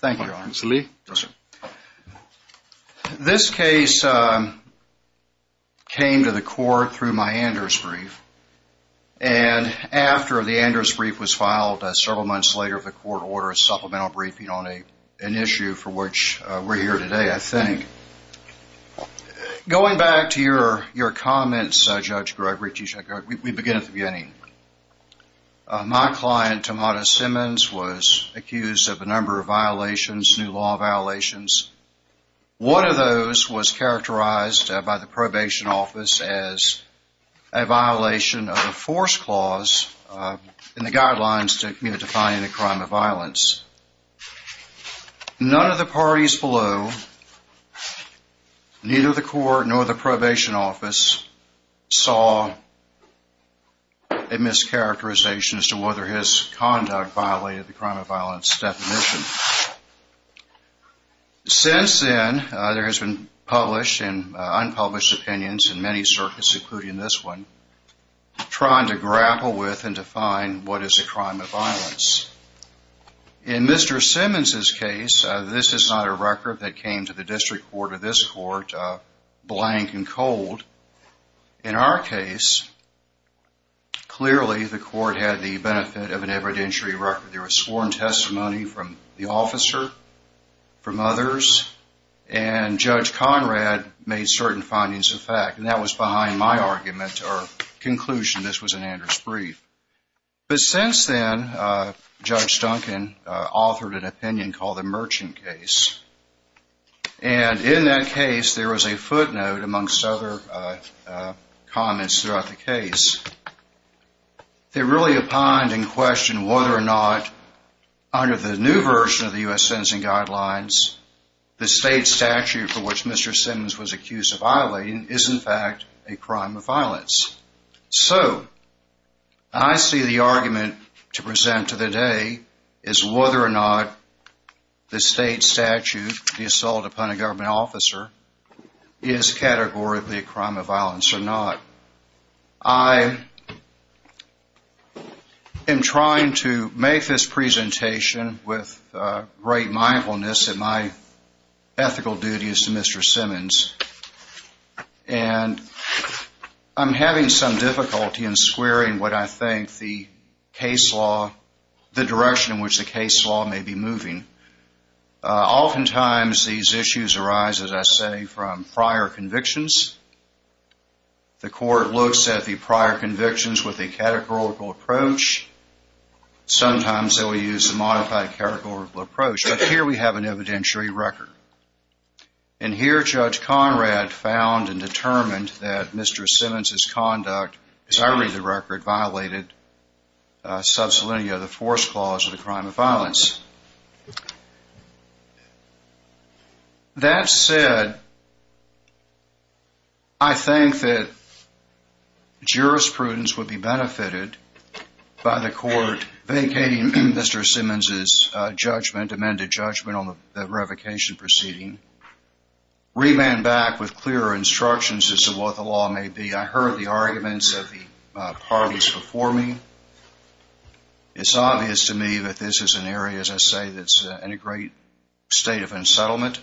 Thank you. This case came to the court through my Anders brief. And after the Anders brief was filed, several months later, the court ordered a supplemental briefing on an issue for which we're here today, I think. Going back to your comments, Judge Gregory, we begin with Vianney. My client, Tomonta Simmons, was accused of a number of violations, new law violations. One of those was characterized by the probation office as a violation of a force clause in the Guidelines to Define any Crime of Violence. None of the parties below, neither the court nor the probation office, saw a mischaracterization as to whether his conduct violated the Crime of Violence definition. Since then, there has been published and unpublished opinions in many circuits, including this one, trying to grapple with and define what is a Crime of Violence. In Mr. Simmons' case, this is not a record that came to the district court or this court blank and cold. In our case, clearly the court had the benefit of an evidentiary record. There was sworn testimony from the officer, from others, and Judge Conrad made certain findings of fact. And that was behind my argument or conclusion. This was an Anders brief. But since then, Judge Duncan authored an opinion called the Merchant Case. And in that case, there was a footnote, amongst other comments throughout the case, that really opined and questioned whether or not, under the new version of the U.S. Sentencing Guidelines, the state statute for which Mr. Simmons was accused of violating is, in fact, a Crime of Violence. So, I see the argument to present to the day is whether or not the state statute, the assault upon a government officer, is categorically a Crime of Violence or not. I am trying to make this presentation with great mindfulness that my ethical duty is to Mr. Simmons. And I'm having some difficulty in squaring what I think the case law, the direction in which the case law may be moving. Oftentimes, these issues arise, as I say, from prior convictions. The court looks at the prior convictions with a categorical approach. Sometimes, they will use a modified categorical approach. But here we have an evidentiary record. And here, Judge Conrad found and determined that Mr. Simmons' conduct, as I read the record, violated subselinea, the fourth clause of the Crime of Violence. That said, I think that jurisprudence would be benefited by the court vacating Mr. Simmons' judgment on the revocation proceeding. Rebound back with clearer instructions as to what the law may be. I heard the arguments of the parties before me. It's obvious to me that this is an area, as I say, that's in a great state of unsettlement.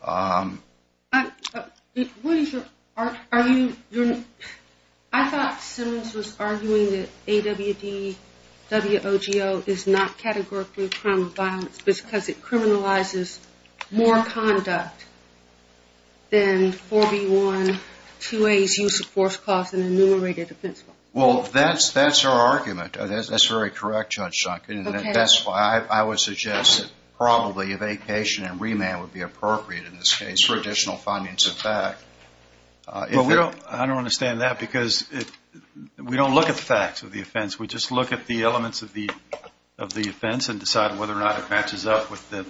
I thought Simmons was arguing that AWD-WOGO is not categorically a crime of violence because it criminalizes more conduct than 4B1-2A's use of fourth clause in the enumerated defense law. Well, that's her argument. That's very correct, Judge Sunkin. And that's why I would suggest that probably evacuation and remand would be appropriate in this case for additional findings of fact. Well, I don't understand that because we don't look at the facts of the offense. We just look at the elements of the offense and decide whether or not it matches up with the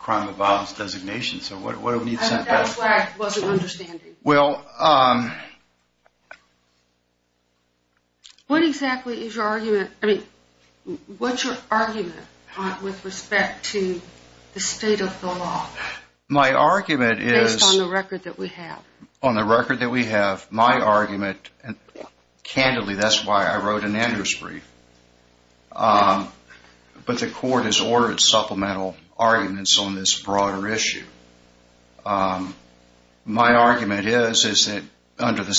crime of violence designation. So what do we mean by that? That's why I wasn't with respect to the state of the law based on the record that we have. On the record that we have, my argument, and candidly that's why I wrote an Andrews brief, but the court has ordered supplemental arguments on this broader issue. My argument is that under the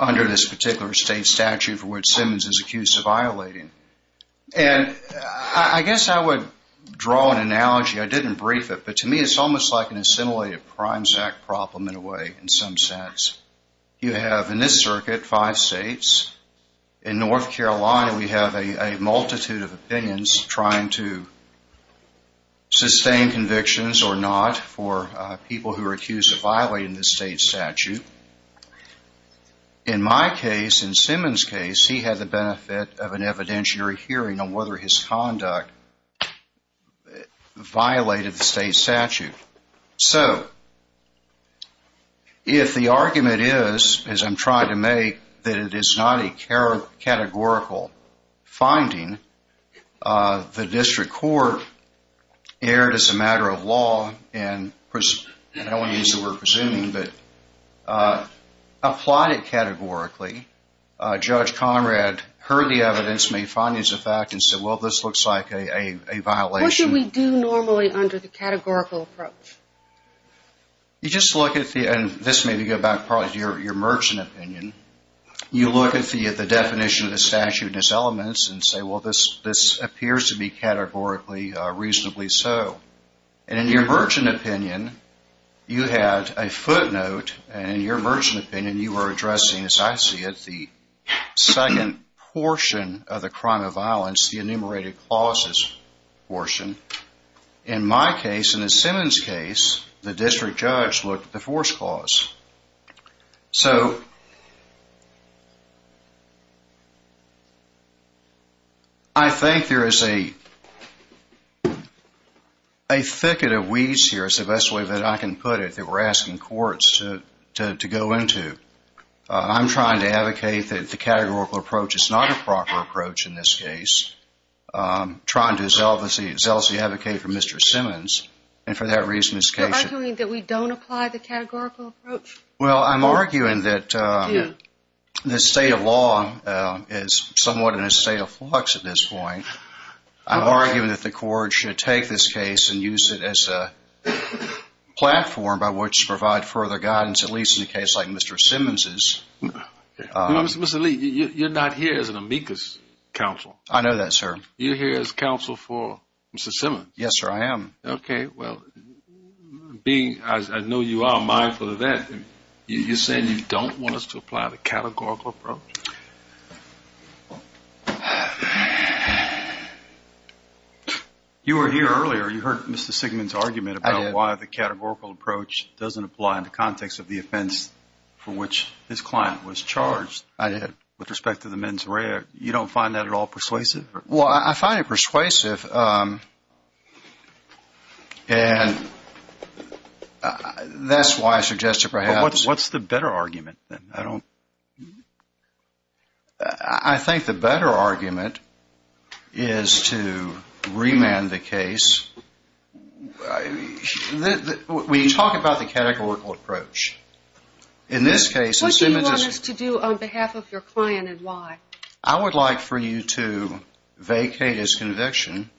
under this particular state statute for which Simmons is accused of violating. And I guess I would draw an analogy. I didn't brief it, but to me it's almost like an assimilated crimes act problem in a way in some sense. You have in this circuit five states. In North Carolina we have a multitude of opinions trying to sustain convictions or not for people who are convicted. In my case, in Simmons' case, he had the benefit of an evidentiary hearing on whether his conduct violated the state statute. So if the argument is, as I'm trying to make, that it is not a categorical finding, the district court erred as a matter of law and, I don't want to use the word presuming, but applied it categorically. Judge Conrad heard the evidence, made findings of fact, and said well this looks like a violation. What should we do normally under the categorical approach? You just look at the, and this may go back to your Merchant opinion, you look at the definition of the statute and its elements and say well this appears to be categorically reasonably so. And in your Merchant opinion you had a footnote and in your Merchant opinion you were addressing, as I see it, the second portion of the crime of violence, the enumerated clauses portion. In my case, in the Simmons case, the district judge looked at the force clause. So I think there is a thicket of weeds here, is the best way that I can put it, that we're asking courts to go into. I'm trying to advocate that the categorical approach is not a proper approach in this case. I'm trying to zealously advocate for Mr. Simmons and for that reason this case is... You're arguing that we don't apply the categorical approach? Well, I'm arguing that the state of law is somewhat in a state of flux at this point. I'm arguing that the court should take this case and use it as a platform by which to provide further guidance, at least in a case like Mr. Simmons'. Mr. Lee, you're not here as an amicus counsel. I know that sir. You're here as counsel for Mr. Simmons. Yes sir, I am. Okay, well, being as I know you are a mindful of that, you're saying you don't want us to apply the categorical approach? You were here earlier. You heard Mr. Simmons' argument about why the categorical approach doesn't apply in the context of the offense for which this client was charged. I did. With respect to the mens rea, you don't find that at all persuasive? Well, I find it persuasive and that's why I suggest it perhaps. What's the better argument then? I think the better argument is to remand the case. We talk about the categorical approach. In this case, Mr. Simmons... What do you want us to do on behalf of your client and why? I would like for you to vacate his conviction.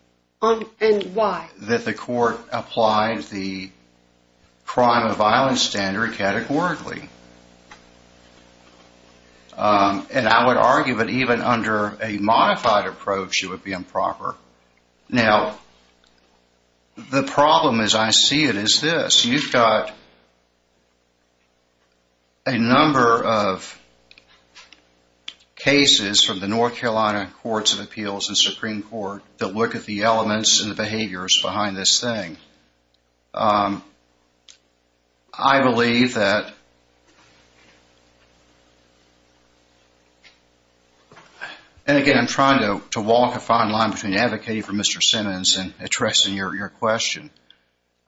And why? That the court applied the crime of violence standard categorically. And I would argue that even under a modified approach it would be improper. Now, the problem as I see it is this. You've got a number of cases from the North Carolina Courts of Appeals and Supreme Court that look at the elements and the behaviors behind this thing. I believe that... And again, I'm trying to walk a fine line between advocating for Mr. Simmons and addressing your question.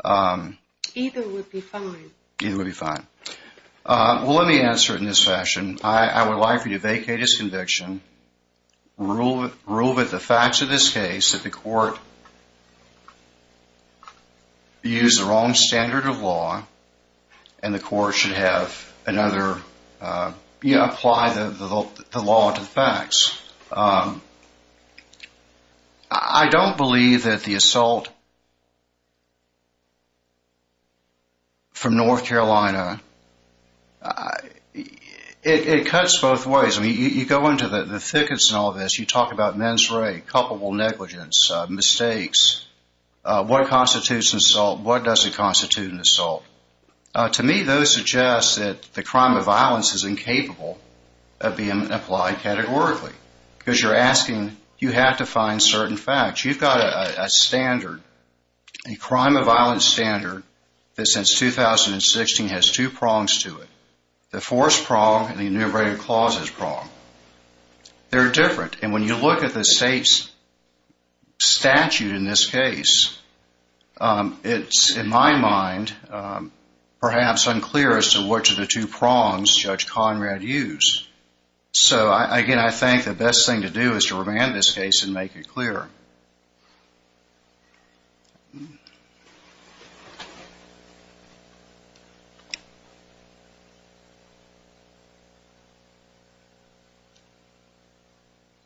Either would be fine. Either would be fine. Well, let me answer it in this fashion. I would like for you to vacate his conviction, rule with the facts of this case that the court used the wrong standard of law and the court should have another... Apply the law to the facts. I don't believe that the assault from North Carolina... It cuts both ways. I mean, you go into the thickets and all this. You talk about mens re, culpable negligence, mistakes. What constitutes an assault? What doesn't constitute an assault? To me, those suggest that the crime of violence is incapable of being applied categorically because you're asking... You have to find certain facts. You've got a standard, a crime of violence standard that since 2016 has two prongs to it. The first prong and the enumerated clauses prong. They're different. And when you look at the state's statute in this case, I think the best thing to do is to remand this case and make it clear. Do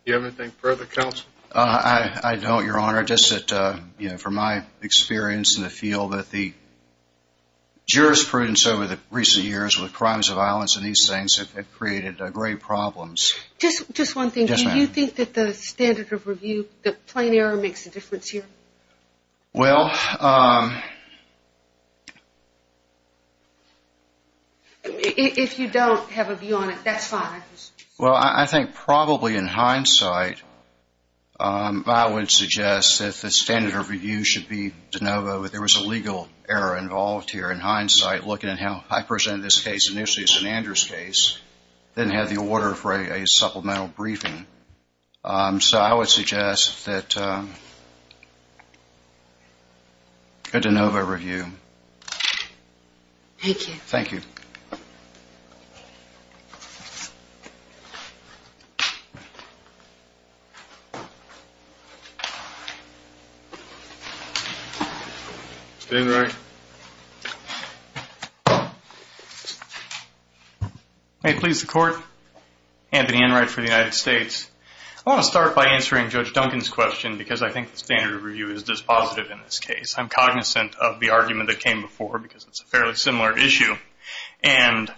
you have anything further, counsel? I don't, your honor. Just that from my experience in the field that the jurisprudence over the recent years with crimes of violence and these things have created great problems. Just one thing. Yes, ma'am. Do you think that the standard of review, the plain error makes a difference here? Well... If you don't have a view on it, that's fine. Well, I think probably in hindsight, I would suggest that the standard of review should be de novo. There was a legal error involved here in Andrew's case. They didn't have the order for a supplemental briefing. So I would suggest that a de novo review. Thank you. May it please the court. Anthony Enright for the United States. I want to start by answering Judge Duncan's question because I think the standard of review is dispositive in this case. I'm cognizant of the argument that came before because it's a fairly similar issue. And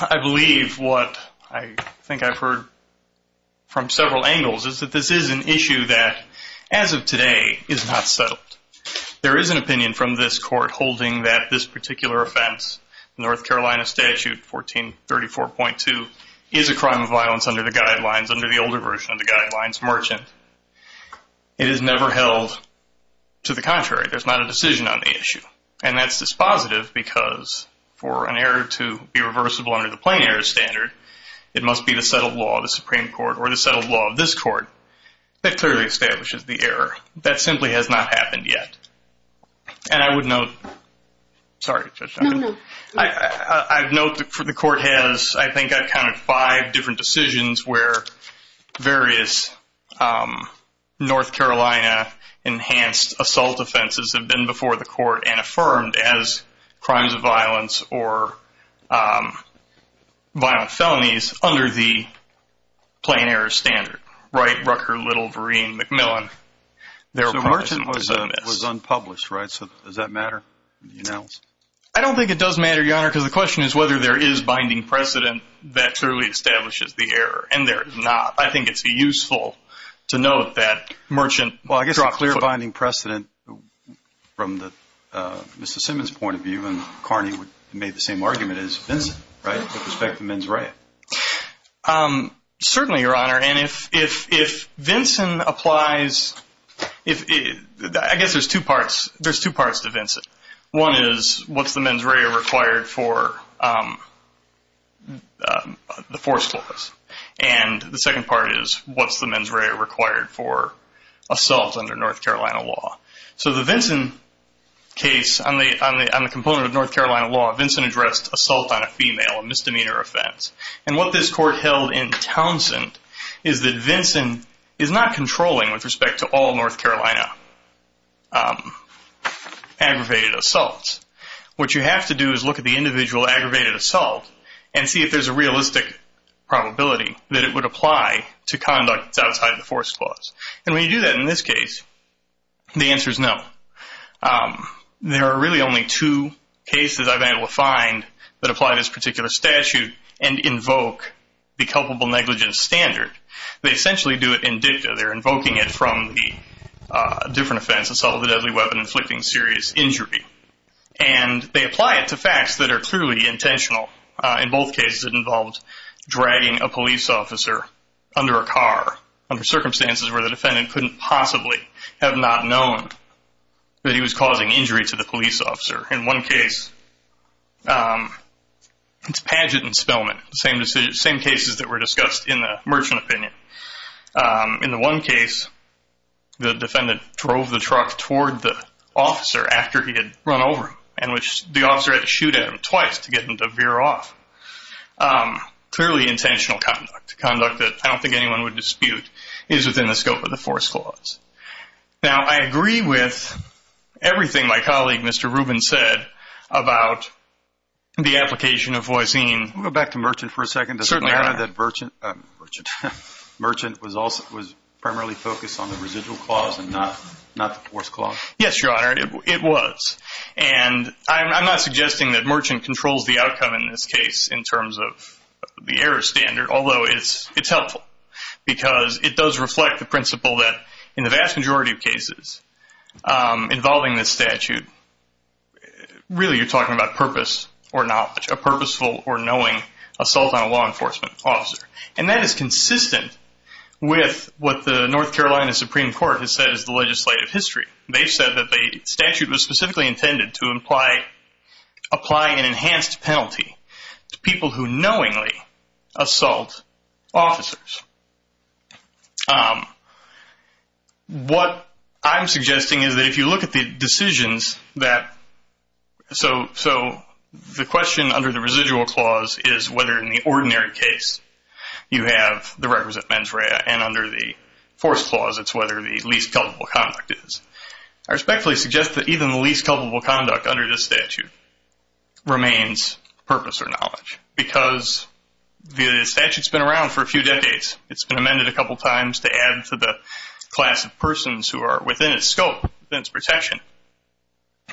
I believe what I think I've heard from several angles is that this is an issue that as of today is not settled. There is an opinion from this court holding that this particular offense, North Carolina Statute 1434.2, is a crime of violence under the guidelines, under the older version of the guidelines, merchant. It is never held to the contrary. There's not a dispositive because for an error to be reversible under the plain error standard, it must be the settled law of the Supreme Court or the settled law of this court that clearly establishes the error. That simply has not happened yet. And I would note, sorry, Judge Duncan, I've noted for the court has, I think I've counted five different decisions where various North Carolina enhanced assault offenses have been before the court and affirmed as crimes of violence or violent felonies under the plain error standard. Right, Rucker, Little, Vereen, McMillan. So merchant was unpublished, right? So does that matter? I don't think it does matter, Your Honor, because the question is whether there is binding precedent that clearly establishes the error. And there is not. I think it's useful to note that merchant. Well, I guess a clear binding precedent from the Mr. Simmons point of view and Carney made the same argument as Vincent, right? With respect to mens rea. Certainly, Your Honor. And if Vincent applies, I guess there's two parts. There's two parts to Vincent. One is what's the mens rea required for the assault under North Carolina law? So the Vincent case on the component of North Carolina law, Vincent addressed assault on a female, a misdemeanor offense. And what this court held in Townsend is that Vincent is not controlling with respect to all North Carolina aggravated assaults. What you have to do is look at the individual aggravated assault and see if there's a realistic probability that it would apply to conduct outside the force clause. And when you do that in this case, the answer is no. There are really only two cases I've been able to find that apply this particular statute and invoke the culpable negligence standard. They essentially do it in dicta. They're invoking it from the different offense, assault of a deadly weapon, inflicting serious injury. And they apply it to facts that are clearly intentional. In both cases, it involved dragging a police officer under a car under circumstances where the defendant couldn't possibly have not known that he was causing injury to the police officer. In one case, it's pageant and spellman, the same cases that were discussed in the merchant opinion. In the one case, the defendant drove the truck toward the officer after he had run over him, in which the officer had to shoot at him twice to get him to veer off. Clearly intentional conduct. Conduct that I don't think anyone would dispute is within the scope of the force clause. Now, I agree with everything my colleague, Mr. Rubin, said about the application of voisine. Let me go back to merchant for a second. Does it matter that merchant was primarily focused on the residual clause and not the force clause? Yes, Your Honor, it was. And I'm not suggesting that merchant controls the outcome in this case in terms of the error standard, although it's helpful because it does reflect the principle that in the vast majority of cases involving this statute, really you're talking about purpose or not, a purposeful or knowing assault on a law enforcement officer. And that is why I said that the statute was specifically intended to imply applying an enhanced penalty to people who knowingly assault officers. What I'm suggesting is that if you look at the decisions that, so the question under the residual clause is whether in the ordinary case you have the requisite mens rea and under the force clause it's whether the least I respectfully suggest that even the least culpable conduct under this statute remains purpose or knowledge because the statute's been around for a few decades. It's been amended a couple times to add to the class of persons who are within its scope, within its protection.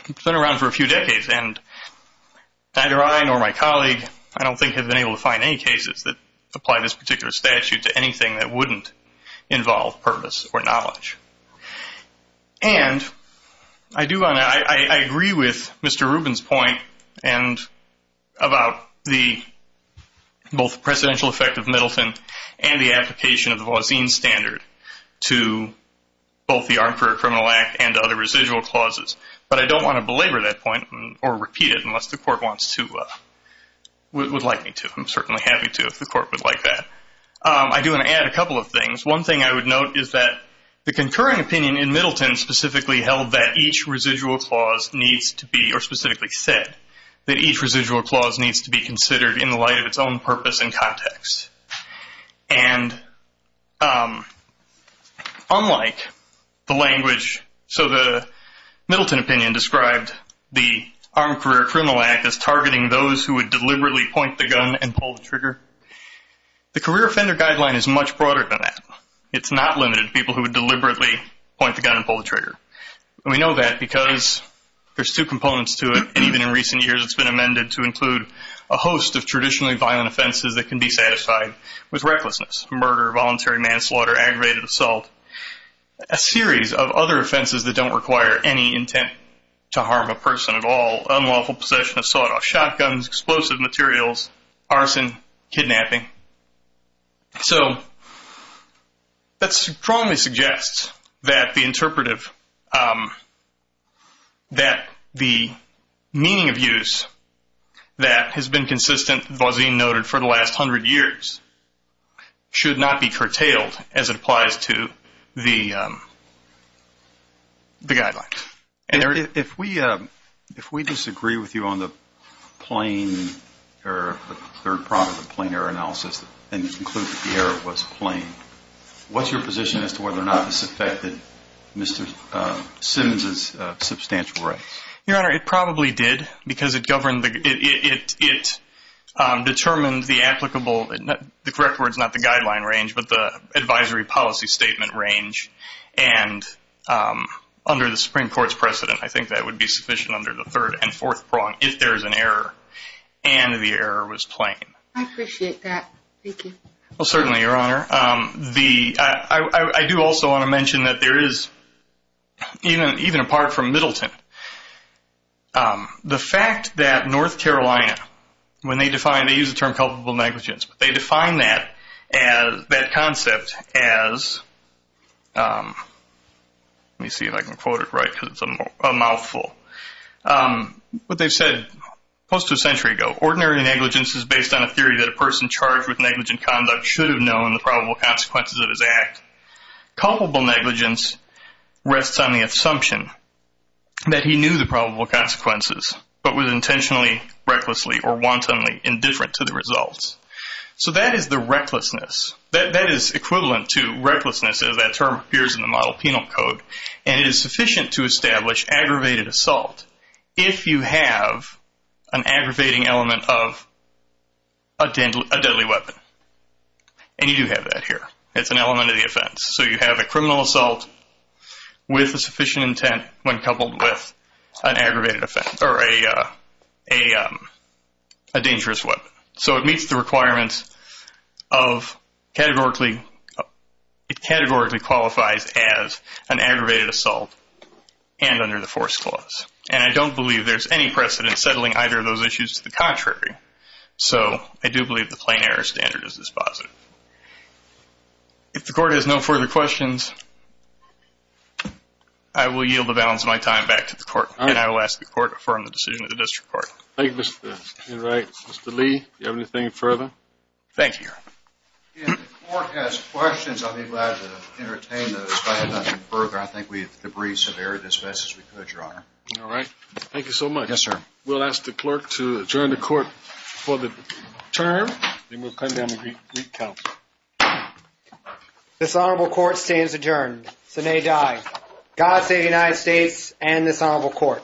It's been around for a few decades and neither I nor my colleague, I don't think, have been able to find any cases that apply this particular statute to anything that wouldn't involve purpose or knowledge. And I do want to, I agree with Mr. Rubin's point and about the both precedential effect of Middleton and the application of the Voisin standard to both the Armed Career Criminal Act and other residual clauses, but I don't want to belabor that point or repeat it unless the court wants to, would like me to. I'm certainly happy to if the court would like that. I do want to add a couple of things. One thing I would note is that the concurring opinion in Middleton specifically held that each residual clause needs to be, or specifically said, that each residual clause needs to be considered in the light of its own purpose and context. And unlike the language, so the Middleton opinion described the Armed Career Criminal Act as targeting those who would deliberately point the gun and pull the trigger. The career offender guideline is much broader than that. It's not limited to people who would deliberately point the gun and pull the trigger. We know that because there's two components to it and even in recent years it's been amended to include a host of traditionally violent offenses that can be satisfied with recklessness, murder, voluntary manslaughter, aggravated assault, a series of other offenses that don't require any intent to harm a person at all, unlawful possession of sawed-off shotguns, explosive materials, arson, kidnapping. So that strongly suggests that the interpretive, that the meaning of use that has been consistent, as Vauzine noted, for the last hundred years should not be curtailed as it applies to the guideline. If we disagree with you on the plain error, the third part of the plain error analysis and conclude that the error was plain, what's your position as to whether or not this affected Mr. Simmons' substantial rights? Your Honor, it probably did because it governed, it determined the applicable, the correct word is not the guideline range, but the advisory policy statement range and under the Supreme Court's precedent I think that would be sufficient under the third and fourth prong if there's an error and the error was plain. I appreciate that. Thank you. Certainly, Your Honor. I do also want to mention that there is, even apart from Middleton, the fact that North Carolina, when they define, they use the term culpable negligence, but they define that concept as, let me see if I can quote it right because it's a mouthful. What they've said, close to a century ago, ordinary negligence is based on a theory that a person charged with negligent conduct should have known the probable consequences of his act. Culpable negligence rests on the assumption that he knew the probable consequences, but was intentionally, recklessly, or wantonly indifferent to the results. So that is the recklessness. That is equivalent to recklessness as that term appears in the model penal code, and it is sufficient to establish aggravated assault if you have an aggravating element of a deadly weapon. And you do have that here. It's an element of the offense. So you have a criminal assault with a sufficient intent when coupled with an aggravated offense or a dangerous weapon. So it meets the requirements of categorically, it categorically qualifies as an aggravated assault and under the force clause. And I don't believe there's any precedent settling either of those issues to the contrary. So I do believe the plain error standard is dispositive. If the court has no further questions, I will yield the balance of my time back to the court. And I will ask the court to affirm the decision of the district court. Thank you, Mr. Enright. Mr. Lee, do you have anything further? Thank you, Your Honor. If the court has questions, I'll be glad to entertain those. If I have nothing further, I think we've debriefed as best as we could, Your Honor. All right. Thank you so much. Yes, sir. We'll ask the clerk to adjourn the court for the term. Then we'll come down and recount. This honorable court stands adjourned. Sinead Dye, God save the United States and this honorable court.